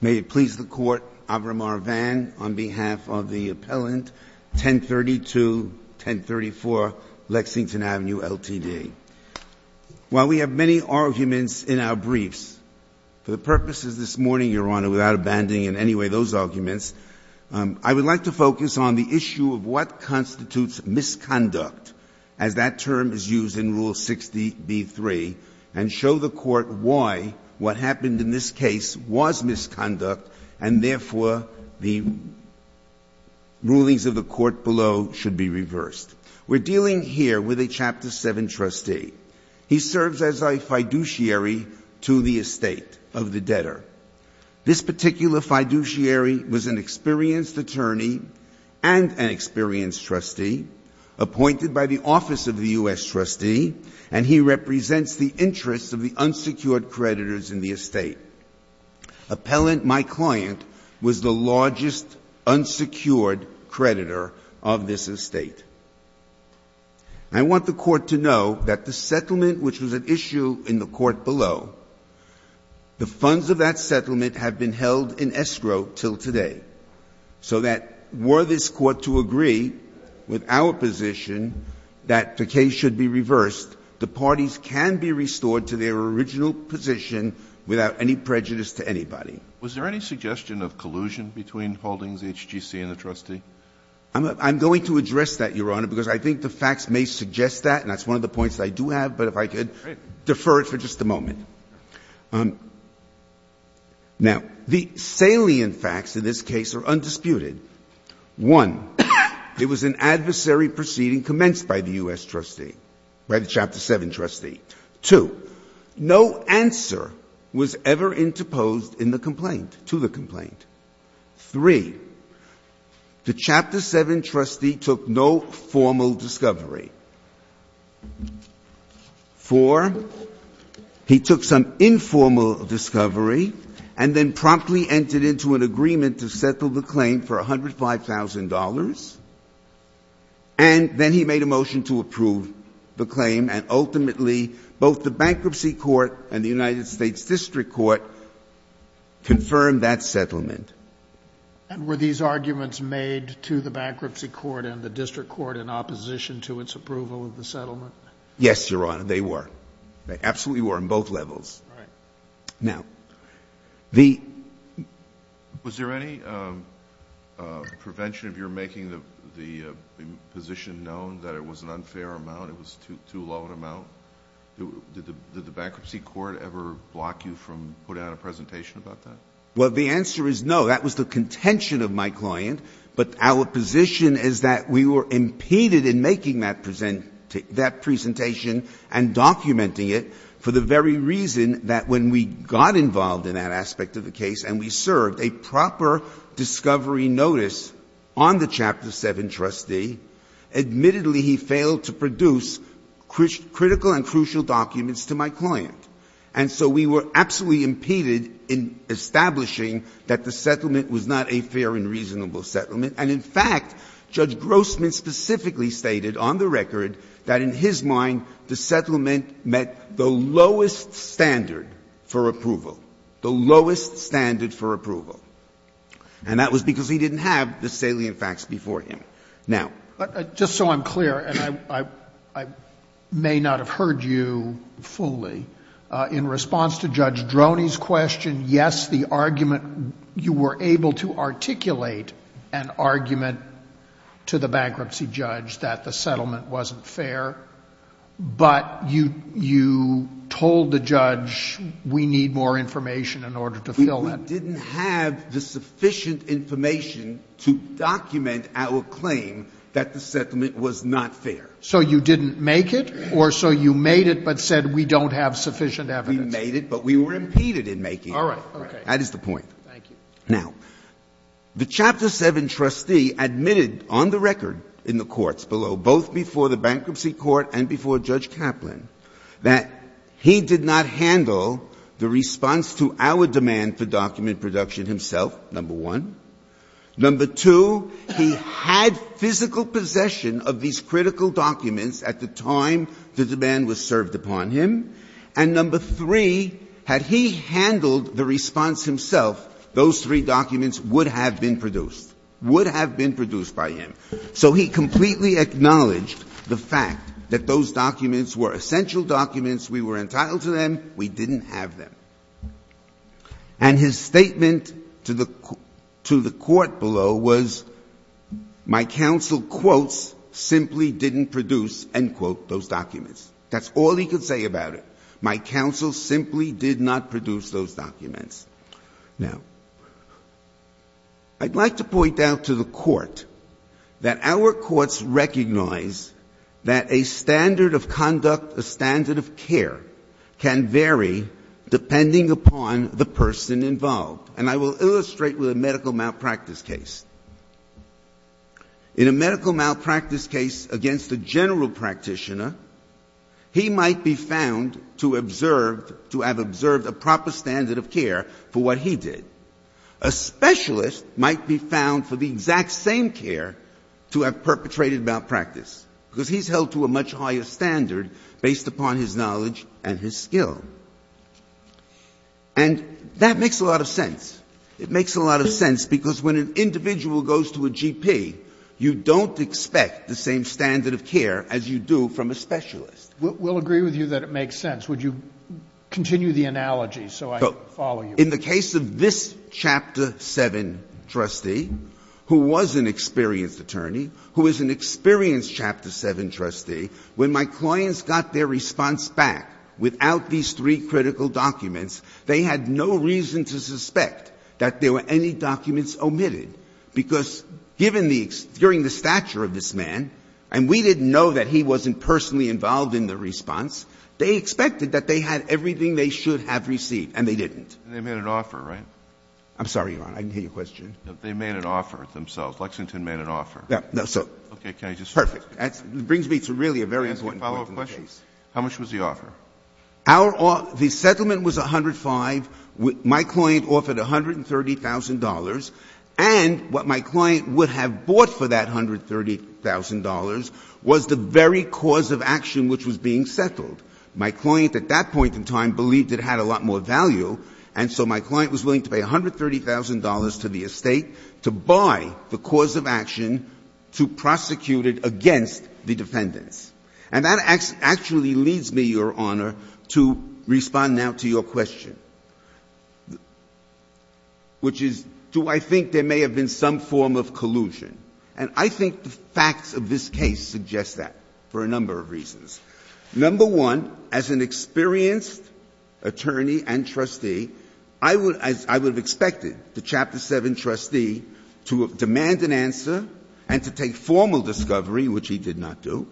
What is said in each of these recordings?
May it please the Court, Avram R. Vang, on behalf of the Appellant 1032-1034, Lexington Avenue, LTD. While we have many arguments in our briefs, for the purposes this morning, Your Honor, without abandoning in any way those arguments, I would like to focus on the issue of what constitutes misconduct, as that term is used in Rule 60b-3, and show the Court why what happened in this case was misconduct, and therefore the rulings of the Court below should be reversed. We're dealing here with a Chapter 7 trustee. He serves as a fiduciary to the estate of the debtor. This particular fiduciary was an experienced attorney and an experienced trustee, appointed by the office of the U.S. trustee, and he represents the interests of the unsecured creditors in the estate. Appellant, my client, was the largest unsecured creditor of this estate. I want the Court to know that the settlement which was at issue in the Court below, the funds of that settlement have been held in escrow till today. So that were this Court to agree with our position that the case should be reversed, the parties can be restored to their original position without any prejudice to anybody. Was there any suggestion of collusion between Holdings HGC and the trustee? I'm going to address that, Your Honor, because I think the facts may suggest that, and that's one of the points that I do have, but if I could defer it for just a moment. Now, the salient facts in this case are undisputed. One, it was an adversary proceeding commenced by the U.S. trustee, by the Chapter 7 trustee. Two, no answer was ever interposed in the complaint, to the complaint. Three, the Chapter 7 trustee took no formal discovery. Four, he took some informal discovery and then promptly entered into an agreement to settle the claim for $105,000, and then he made a motion to approve the claim, and ultimately both the Bankruptcy Court and the United States District Court confirmed that settlement. And were these arguments made to the Bankruptcy Court and the District Court in opposition to its approval of the settlement? Yes, Your Honor, they were. They absolutely were on both levels. Right. Now, the — Was there any prevention of your making the position known that it was an unfair amount, it was too low an amount? Did the Bankruptcy Court ever block you from putting out a presentation about that? Well, the answer is no. That was the contention of my client, but our position is that we were impeded in making that presentation and documenting it for the very reason that when we got involved in that aspect of the case and we served a proper discovery notice on the Chapter 7 trustee, admittedly he failed to produce critical and crucial documents to my client. And so we were absolutely impeded in establishing that the settlement was not a fair and reasonable settlement. And in fact, Judge Grossman specifically stated on the record that in his mind the settlement met the lowest standard for approval, the lowest standard for approval. And that was because he didn't have the salient facts before him. Now — But just so I'm clear, and I may not have heard you fully, in response to Judge Droney's question, yes, the argument — you were able to articulate an argument to the bankruptcy judge that the settlement wasn't fair, but you told the judge we need more information in order to fill that. We didn't have the sufficient information to document our claim that the settlement was not fair. So you didn't make it? Or so you made it but said we don't have sufficient evidence? We made it, but we were impeded in making it. All right. Okay. That is the point. Thank you. Now, the Chapter 7 trustee admitted on the record in the courts below, both before the bankruptcy court and before Judge Kaplan, that he did not handle the response to our demand for document production himself, number one. Number two, he had physical possession of these critical documents at the time the demand was served upon him. And number three, had he handled the response himself, those three documents would have been produced, would have been produced by him. So he completely acknowledged the fact that those documents were essential documents. We were entitled to them. We didn't have them. And his statement to the court below was, my counsel, quotes, simply didn't produce, end quote, those documents. That's all he could say about it. My counsel simply did not produce those documents. Now, I'd like to point out to the court that our courts recognize that a standard of conduct, a standard of care can vary depending upon the person involved. And I will illustrate with a medical malpractice case. In a medical malpractice case against a general practitioner, he might be found to observe, to have observed a proper standard of care for what he did. A specialist might be found for the exact same care to have perpetrated malpractice because he's held to a much higher standard based upon his knowledge and his skill. And that makes a lot of sense. It makes a lot of sense because when an individual goes to a GP, you don't expect the same standard of care as you do from a specialist. We'll agree with you that it makes sense. Would you continue the analogy so I can follow you? In the case of this Chapter VII trustee, who was an experienced attorney, who is an experienced attorney. In the case of this Chapter VII trustee, when my clients got their response back without these three critical documents, they had no reason to suspect that there were any documents omitted, because given the — during the stature of this man, and we didn't know that he wasn't personally involved in the response, they expected that they had everything they should have received, and they didn't. They made an offer, right? I'm sorry, Your Honor. I didn't hear your question. They made an offer themselves. Lexington made an offer. No, sir. Okay. Can I just — It brings me to really a very important point in the case. Can I ask a follow-up question? How much was the offer? Our — the settlement was $105,000. My client offered $130,000. And what my client would have bought for that $130,000 was the very cause of action which was being settled. My client at that point in time believed it had a lot more value, and so my client was willing to pay $130,000 to the estate to buy the cause of action to prosecute it against the defendants. And that actually leads me, Your Honor, to respond now to your question, which is do I think there may have been some form of collusion? And I think the facts of this case suggest that for a number of reasons. Number one, as an experienced attorney and trustee, I would — as I would have expected the Chapter 7 trustee to demand an answer and to take formal discovery, which he did not do.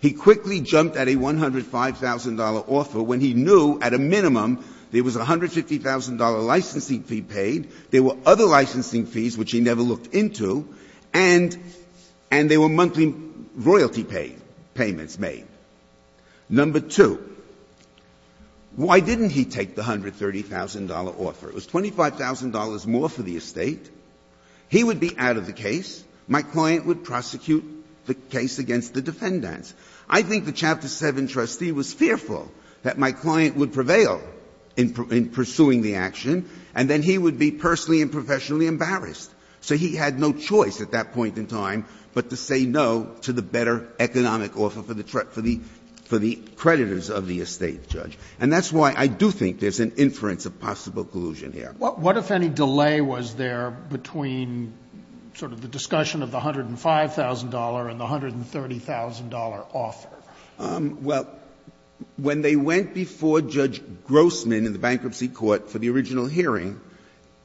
He quickly jumped at a $105,000 offer when he knew at a minimum there was a $150,000 licensing fee paid, there were other licensing fees which he never looked into, and there were monthly royalty payments made. Number two, why didn't he take the $130,000 offer? It was $25,000 more for the estate. He would be out of the case. My client would prosecute the case against the defendants. I think the Chapter 7 trustee was fearful that my client would prevail in pursuing the action, and then he would be personally and professionally embarrassed. So he had no choice at that point in time but to say no to the better economic offer for the creditors of the estate, Judge. And that's why I do think there's an inference of possible collusion here. What if any delay was there between sort of the discussion of the $105,000 and the $130,000 offer? Well, when they went before Judge Grossman in the bankruptcy court for the original hearing,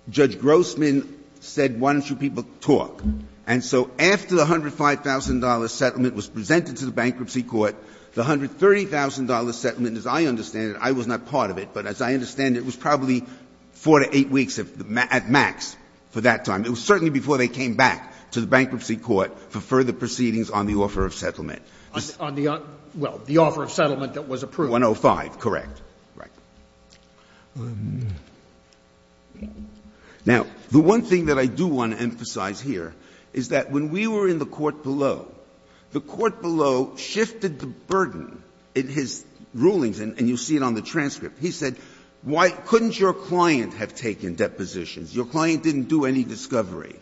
Judge Grossman said, why don't you people talk? And so after the $105,000 settlement was presented to the bankruptcy court, the $130,000 settlement, as I understand it, I was not part of it, but as I understand it, was probably 4 to 8 weeks at max for that time. It was certainly before they came back to the bankruptcy court for further proceedings on the offer of settlement. On the offer of settlement that was approved. 105, correct. Now, the one thing that I do want to emphasize here is that when we were in the court below, the court below shifted the burden in his rulings, and you see it on the transcript. He said, why couldn't your client have taken depositions? Your client didn't do any discovery.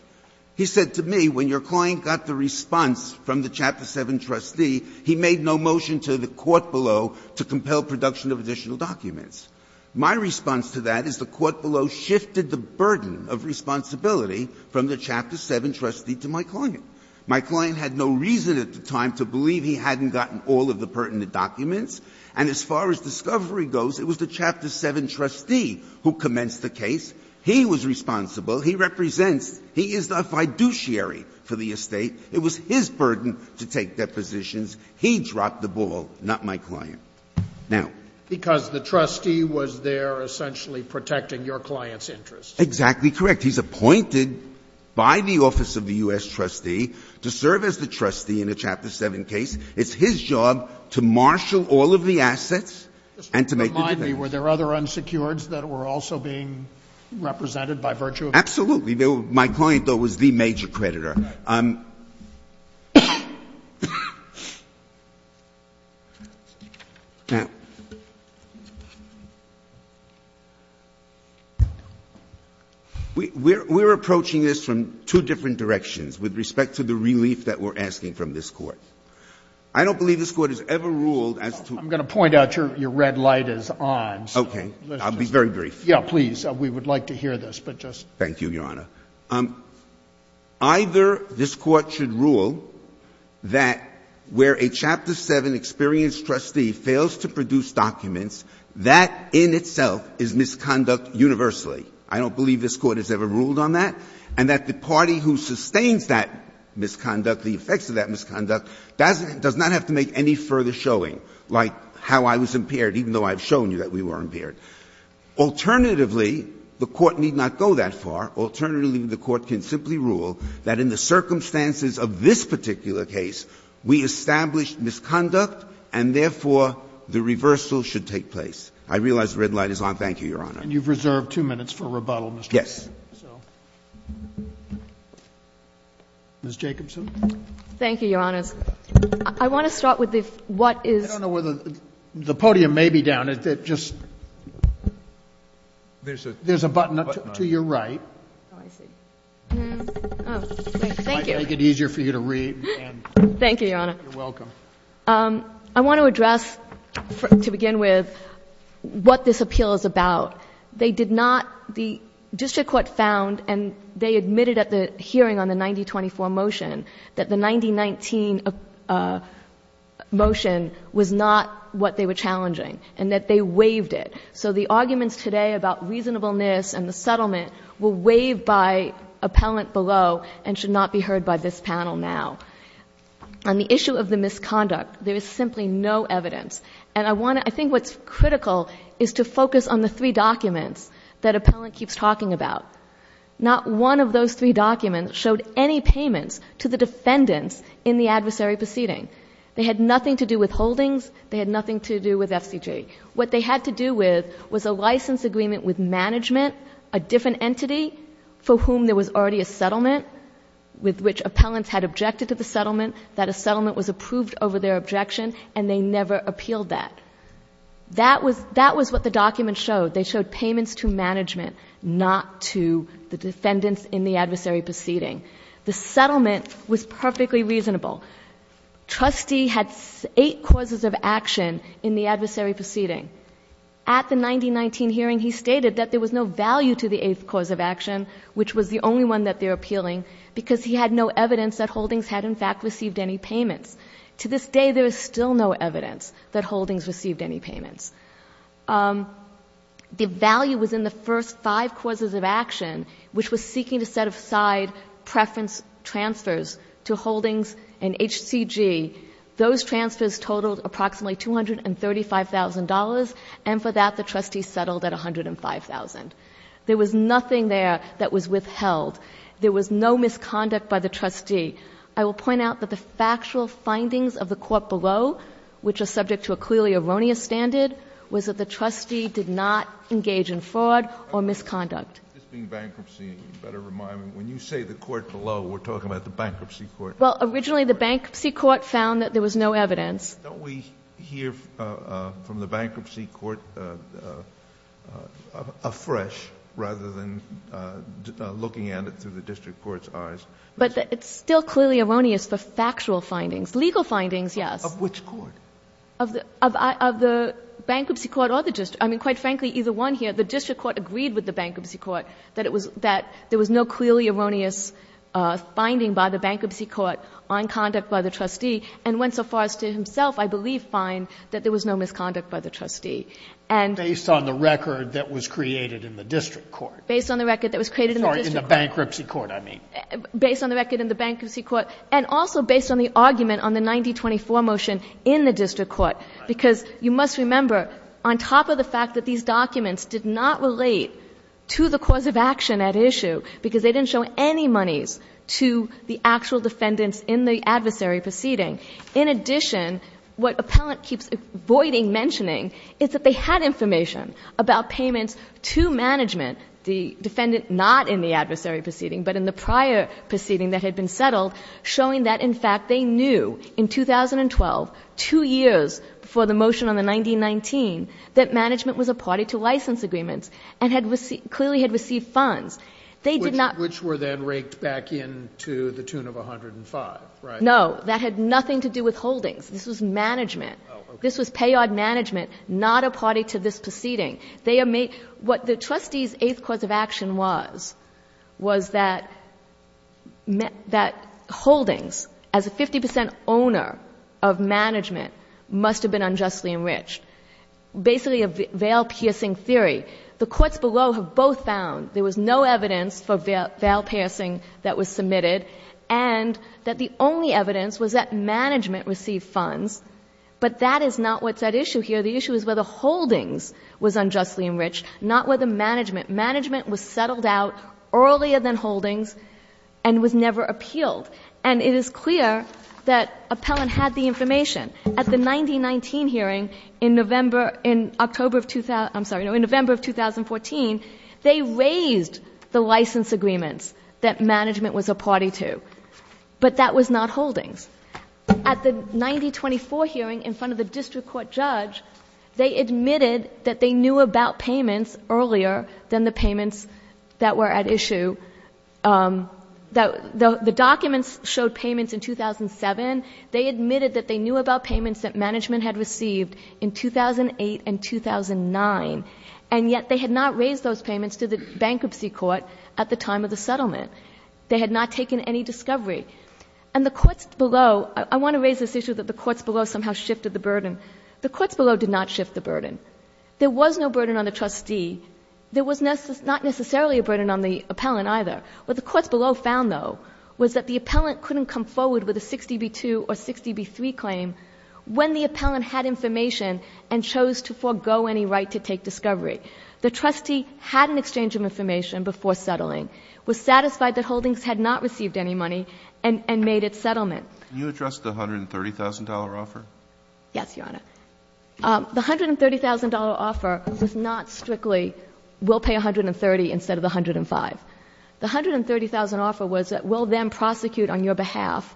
He said to me, when your client got the response from the Chapter 7 trustee, he made no motion to the court below to compel production of additional documents. My response to that is the court below shifted the burden of responsibility from the Chapter 7 trustee to my client. My client had no reason at the time to believe he hadn't gotten all of the pertinent documents. And as far as discovery goes, it was the Chapter 7 trustee who commenced the case. He was responsible. He represents, he is the fiduciary for the estate. It was his burden to take depositions. He dropped the ball, not my client. Now — Because the trustee was there essentially protecting your client's interests. Exactly correct. He's appointed by the office of the U.S. trustee to serve as the trustee in a Chapter 7 case. It's his job to marshal all of the assets and to make the decisions. Just to remind me, were there other unsecureds that were also being represented by virtue of — My client, though, was the major creditor. Now, we're approaching this from two different directions with respect to the relief that we're asking from this Court. I don't believe this Court has ever ruled as to — I'm going to point out your red light is on. Okay. I'll be very brief. Yeah, please. We would like to hear this, but just — Thank you, Your Honor. Either this Court should rule that where a Chapter 7 experienced trustee fails to produce documents, that in itself is misconduct universally. I don't believe this Court has ever ruled on that. And that the party who sustains that misconduct, the effects of that misconduct, does not have to make any further showing, like how I was impaired, even though I've shown you that we were impaired. Alternatively, the Court need not go that far. Alternatively, the Court can simply rule that in the circumstances of this particular case, we established misconduct, and therefore, the reversal should take place. I realize the red light is on. Thank you, Your Honor. And you've reserved two minutes for rebuttal, Mr. — Yes. Ms. Jacobson. Thank you, Your Honors. I want to start with the what is — I don't know whether the podium may be down. There's a button to your right. Oh, I see. Thank you. It might make it easier for you to read. Thank you, Your Honor. You're welcome. I want to address, to begin with, what this appeal is about. They did not — the district court found, and they admitted at the hearing on the 9024 motion, that the 9019 motion was not what they were challenging, and that they waived it. So the arguments today about reasonableness and the settlement were waived by appellant below and should not be heard by this panel now. On the issue of the misconduct, there is simply no evidence. And I want to — I think what's critical is to focus on the three documents that appellant keeps talking about. Not one of those three documents showed any payments to the defendants in the adversary proceeding. They had nothing to do with holdings. They had nothing to do with FCG. What they had to do with was a license agreement with management, a different entity for whom there was already a settlement, with which appellants had objected to the settlement, that a settlement was approved over their objection, and they never appealed that. That was what the documents showed. They showed payments to management, not to the defendants in the adversary proceeding. The settlement was perfectly reasonable. Trustee had eight causes of action in the adversary proceeding. At the 9019 hearing, he stated that there was no value to the eighth cause of action, which was the only one that they're appealing, because he had no evidence that holdings had, in fact, received any payments. To this day, there is still no evidence that holdings received any payments. The value was in the first five causes of action, which was seeking to set aside preference transfers to holdings and HCG. Those transfers totaled approximately $235,000, and for that, the trustee settled at $105,000. There was nothing there that was withheld. There was no misconduct by the trustee. I will point out that the factual findings of the court below, which are subject to a clearly erroneous standard, was that the trustee did not engage in fraud or misconduct. This being bankruptcy, a better reminder, when you say the court below, we're talking about the bankruptcy court. Well, originally, the bankruptcy court found that there was no evidence. Don't we hear from the bankruptcy court afresh rather than looking at it through the district court's eyes? But it's still clearly erroneous for factual findings. Legal findings, yes. Of which court? Of the bankruptcy court or the district. I mean, quite frankly, either one here. The district court agreed with the bankruptcy court that it was that there was no clearly erroneous finding by the bankruptcy court on conduct by the trustee, and went so far as to himself, I believe, find that there was no misconduct by the trustee. And based on the record that was created in the district court. Based on the record that was created in the district court. Sorry, in the bankruptcy court, I mean. Based on the record in the bankruptcy court. And also based on the argument on the 9024 motion in the district court. Because you must remember, on top of the fact that these documents did not relate to the cause of action at issue, because they didn't show any monies to the actual defendants in the adversary proceeding. In addition, what Appellant keeps avoiding mentioning is that they had information about payments to management, the defendant not in the adversary proceeding, but in the prior proceeding that had been settled, showing that, in fact, they knew in 2012, two years before the motion on the 1919, that management was a party to license agreements, and clearly had received funds. They did not. Which were then raked back in to the tune of 105, right? No. That had nothing to do with holdings. This was management. Oh, okay. This was payout management, not a party to this proceeding. What the trustee's eighth cause of action was, was that holdings, as a 50 percent owner of management, must have been unjustly enriched. Basically a veil-piercing theory. The courts below have both found there was no evidence for veil-piercing that was submitted, and that the only evidence was that management received funds. But that is not what's at issue here. The issue is whether holdings was unjustly enriched, not whether management. Management was settled out earlier than holdings, and was never appealed. And it is clear that Appellant had the information. At the 1919 hearing, in November... in October of... I'm sorry. No, in November of 2014, they raised the license agreements that management was a party to. But that was not holdings. At the 1924 hearing, in front of the district court judge, they admitted that they knew about payments earlier than the payments that were at issue. The documents showed payments in 2007. They admitted that they knew about payments that management had received in 2008 and 2009, and yet they had not raised those payments to the bankruptcy court at the time of the settlement. They had not taken any discovery. And the courts below... I want to raise this issue that the courts below somehow shifted the burden. The courts below did not shift the burden. There was no burden on the trustee. There was not necessarily a burden on the Appellant, either. What the courts below found, though, was that the Appellant couldn't come forward with a 60b-2 or 60b-3 claim when the Appellant had information and chose to forego any right to take discovery. The trustee had an exchange of information before settling, was satisfied that he had not received any money, and made its settlement. Can you address the $130,000 offer? Yes, Your Honor. The $130,000 offer was not strictly we'll pay $130,000 instead of the $105,000. The $130,000 offer was that we'll then prosecute on your behalf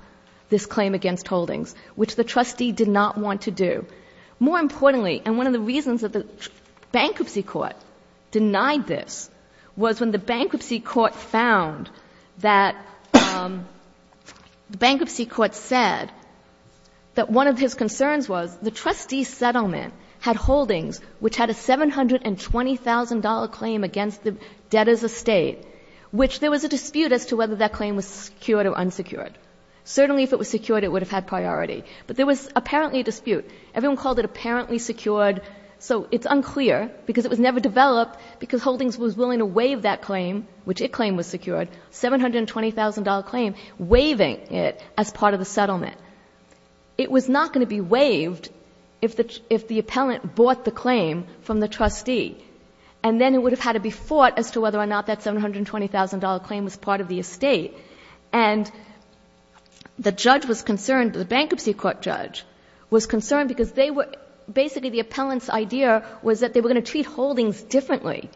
this claim against Holdings, which the trustee did not want to do. More importantly, and one of the reasons that the bankruptcy court denied this, was when the bankruptcy court found that the bankruptcy court said that one of his concerns was the trustee's settlement had Holdings, which had a $720,000 claim against the debtors' estate, which there was a dispute as to whether that claim was secured or unsecured. Certainly, if it was secured, it would have had priority. But there was apparently a dispute. Everyone called it apparently secured. So it's unclear, because it was never developed, because Holdings was willing to waive that claim, which it claimed was secured, $720,000 claim, waiving it as part of the settlement. It was not going to be waived if the appellant bought the claim from the trustee. And then it would have had to be fought as to whether or not that $720,000 claim was part of the estate. And the judge was concerned, the bankruptcy court judge, was concerned because they were — basically, the appellant's idea was that they were going to treat Holdings differently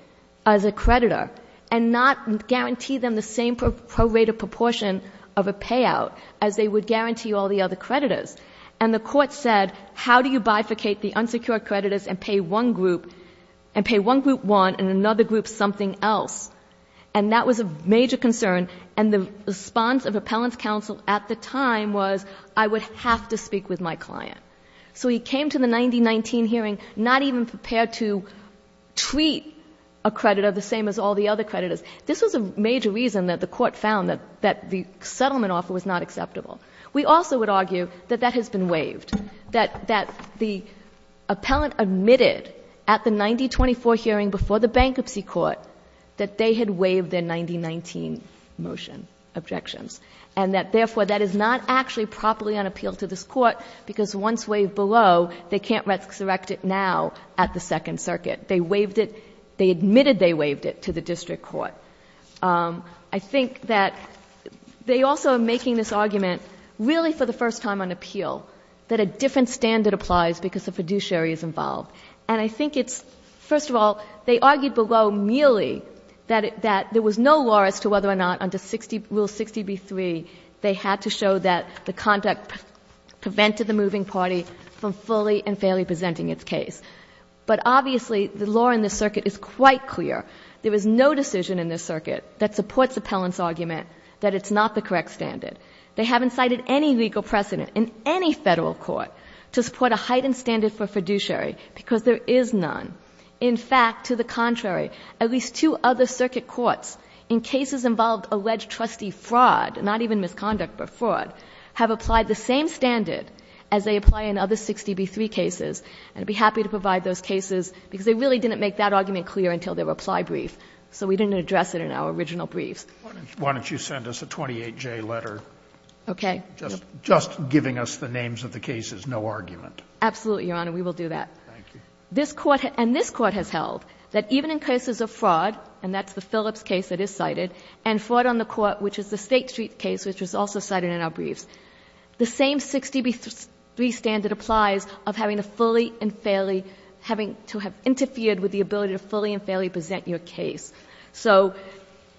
as a creditor and not guarantee them the same pro rata proportion of a payout as they would guarantee all the other creditors. And the court said, how do you bifurcate the unsecured creditors and pay one group one and another group something else? And that was a major concern. And the response of appellant's counsel at the time was, I would have to speak with my client. So he came to the 9019 hearing not even prepared to treat a creditor the same as all the other creditors. This was a major reason that the court found that the settlement offer was not acceptable. We also would argue that that has been waived, that the appellant admitted at the 9024 hearing before the bankruptcy court that they had waived their 9019 motion objections, and that, therefore, that is not actually properly on appeal to this Court. Once waived below, they can't resurrect it now at the Second Circuit. They waived it. They admitted they waived it to the district court. I think that they also are making this argument really for the first time on appeal, that a different standard applies because the fiduciary is involved. And I think it's, first of all, they argued below merely that there was no law as to whether or not under Rule 60b-3 they had to show that the conduct prevented the moving party from fully and fairly presenting its case. But obviously, the law in this circuit is quite clear. There is no decision in this circuit that supports the appellant's argument that it's not the correct standard. They haven't cited any legal precedent in any Federal court to support a heightened standard for fiduciary, because there is none. In fact, to the contrary, at least two other circuit courts in cases involved alleged trustee fraud, not even misconduct but fraud, have applied the same standard as they apply in other 60b-3 cases. And I would be happy to provide those cases, because they really didn't make that argument clear until their reply brief. So we didn't address it in our original briefs. Why don't you send us a 28J letter? Okay. Just giving us the names of the cases, no argument. Absolutely, Your Honor. We will do that. Thank you. And this Court has held that even in cases of fraud, and that's the Phillips case that is cited, and fraud on the court, which is the State Street case, which is also cited in our briefs, the same 60b-3 standard applies of having a fully and fairly, having to have interfered with the ability to fully and fairly present your case. So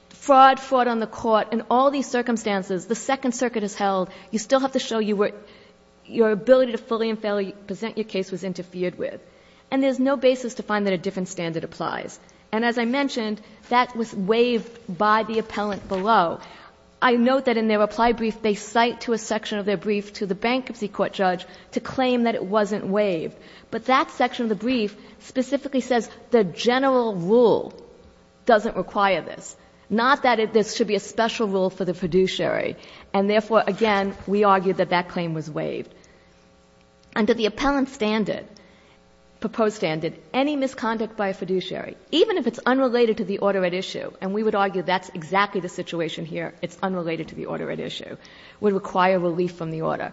fraud, fraud on the court, in all these circumstances, the Second Circuit has held, you still have to show your ability to fully and fairly present your case was interfered with. And there is no basis to find that a different standard applies. And as I mentioned, that was waived by the appellant below. I note that in their reply brief, they cite to a section of their brief to the bankruptcy court judge to claim that it wasn't waived. But that section of the brief specifically says the general rule doesn't require this, not that there should be a special rule for the fiduciary. And therefore, again, we argue that that claim was waived. Under the appellant standard, proposed standard, any misconduct by a fiduciary, even if it's unrelated to the order at issue, and we would argue that's exactly the situation here, it's unrelated to the order at issue, would require relief from the order.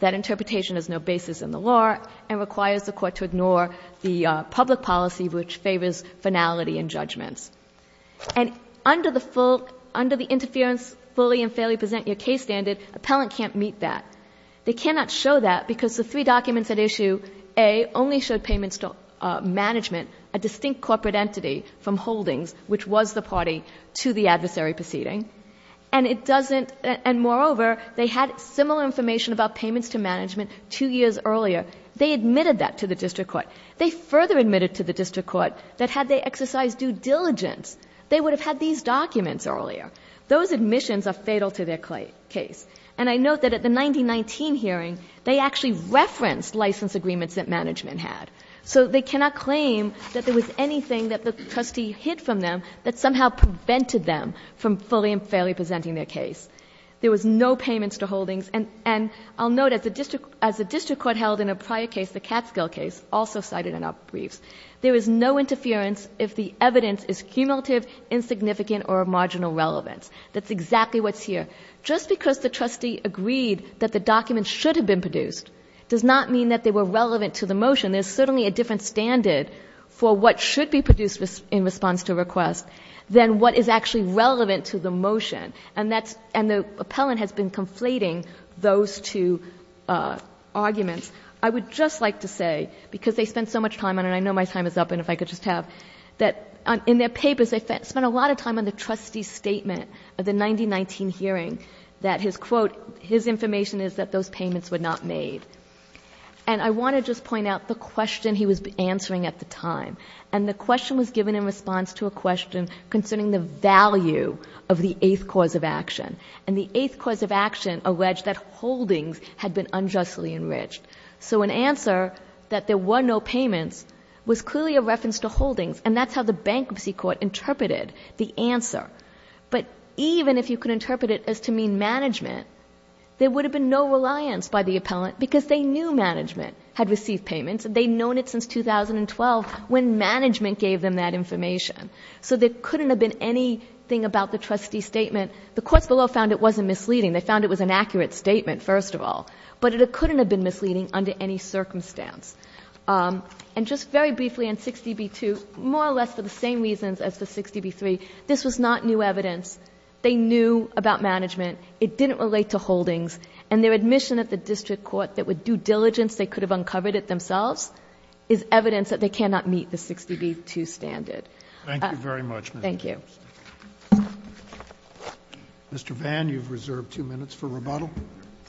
That interpretation has no basis in the law and requires the court to ignore the public policy which favors finality and judgments. And under the full, under the interference fully and fairly present your case standard, appellant can't meet that. They cannot show that because the three documents at issue A only showed payments to management, a distinct corporate entity from Holdings, which was the party to the adversary proceeding. And it doesn't, and moreover, they had similar information about payments to management two years earlier. They admitted that to the district court. They further admitted to the district court that had they exercised due diligence, they would have had these documents earlier. Those admissions are fatal to their case. And I note that at the 1919 hearing, they actually referenced license agreements that management had. So they cannot claim that there was anything that the trustee hid from them that somehow prevented them from fully and fairly presenting their case. There was no payments to Holdings. And I'll note, as the district court held in a prior case, the Catskill case, also cited in our briefs, there is no interference if the evidence is cumulative, insignificant, or of marginal relevance. That's exactly what's here. Just because the trustee agreed that the documents should have been produced does not mean that they were relevant to the motion. There's certainly a different standard for what should be produced in response to a request than what is actually relevant to the motion. And the appellant has been conflating those two arguments. I would just like to say, because they spent so much time on it, and I know my time is up, and if I could just have, that in their papers, they spent a lot of time on the trustee's statement of the 1919 hearing that his, quote, his information is that those payments were not made. And I want to just point out the question he was answering at the time. And the question was given in response to a question concerning the value of the eighth cause of action. And the eighth cause of action alleged that holdings had been unjustly enriched. So an answer that there were no payments was clearly a reference to holdings, and that's how the bankruptcy court interpreted the answer. But even if you could interpret it as to mean management, there would have been no reliance by the appellant, because they knew management had received payments and they'd known it since 2012 when management gave them that information. So there couldn't have been anything about the trustee's statement. The courts below found it wasn't misleading. They found it was an accurate statement, first of all. But it couldn't have been misleading under any circumstance. And just very briefly on 60b-2, more or less for the same reasons as the 60b-3, this was not new evidence. They knew about management. It didn't relate to holdings. And their admission at the district court that with due diligence they could have done it themselves is evidence that they cannot meet the 60b-2 standard. Thank you. Thank you. Mr. Vann, you've reserved two minutes for rebuttal.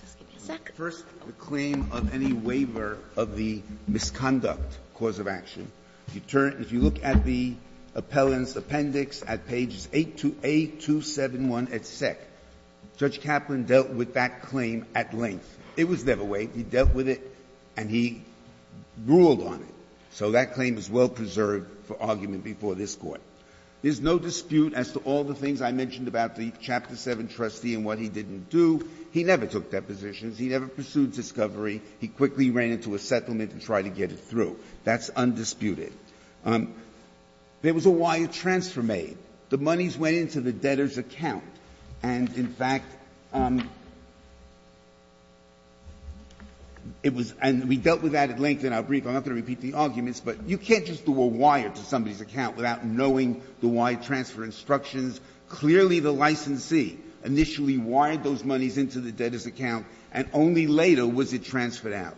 Just give me a second. First, the claim of any waiver of the misconduct cause of action. If you turn, if you look at the appellant's appendix at pages 8 to A271 at SEC, Judge Kaplan dealt with that claim at length. It was never waived. He dealt with it and he ruled on it. So that claim is well preserved for argument before this Court. There's no dispute as to all the things I mentioned about the Chapter 7 trustee and what he didn't do. He never took depositions. He never pursued discovery. He quickly ran into a settlement and tried to get it through. That's undisputed. There was a wire transfer made. The monies went into the debtor's account. And, in fact, it was and we dealt with that at length in our brief. I'm not going to repeat the arguments, but you can't just do a wire to somebody's account without knowing the wire transfer instructions. Clearly the licensee initially wired those monies into the debtor's account and only later was it transferred out.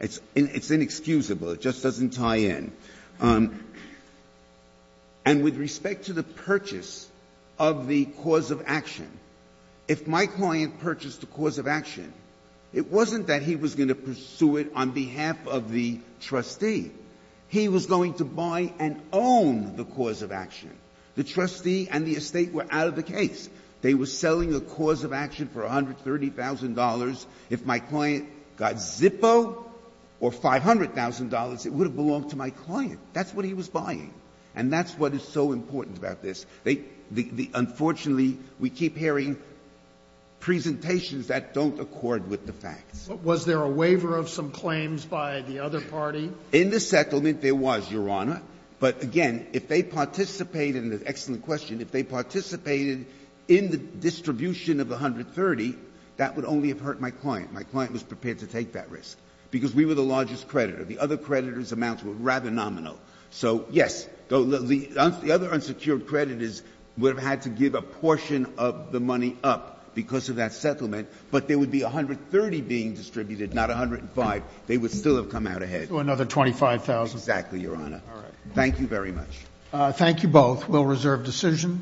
It's inexcusable. It just doesn't tie in. And with respect to the purchase of the cause of action, if my client purchased the cause of action, it wasn't that he was going to pursue it on behalf of the trustee. He was going to buy and own the cause of action. The trustee and the estate were out of the case. They were selling a cause of action for $130,000. If my client got Zippo or $500,000, it would have belonged to my client. That's what he was buying. And that's what is so important about this. Unfortunately, we keep hearing presentations that don't accord with the facts. But was there a waiver of some claims by the other party? In the settlement, there was, Your Honor. But, again, if they participated in the distribution of the $130,000, that would only have hurt my client. My client was prepared to take that risk because we were the largest creditor. The other creditors' amounts were rather nominal. So, yes, the other unsecured creditors would have had to give a portion of the money up because of that settlement. But there would be $130,000 being distributed, not $105,000. They would still have come out ahead. So another $25,000. Exactly, Your Honor. All right. Thank you very much. Thank you both. We'll reserve decision.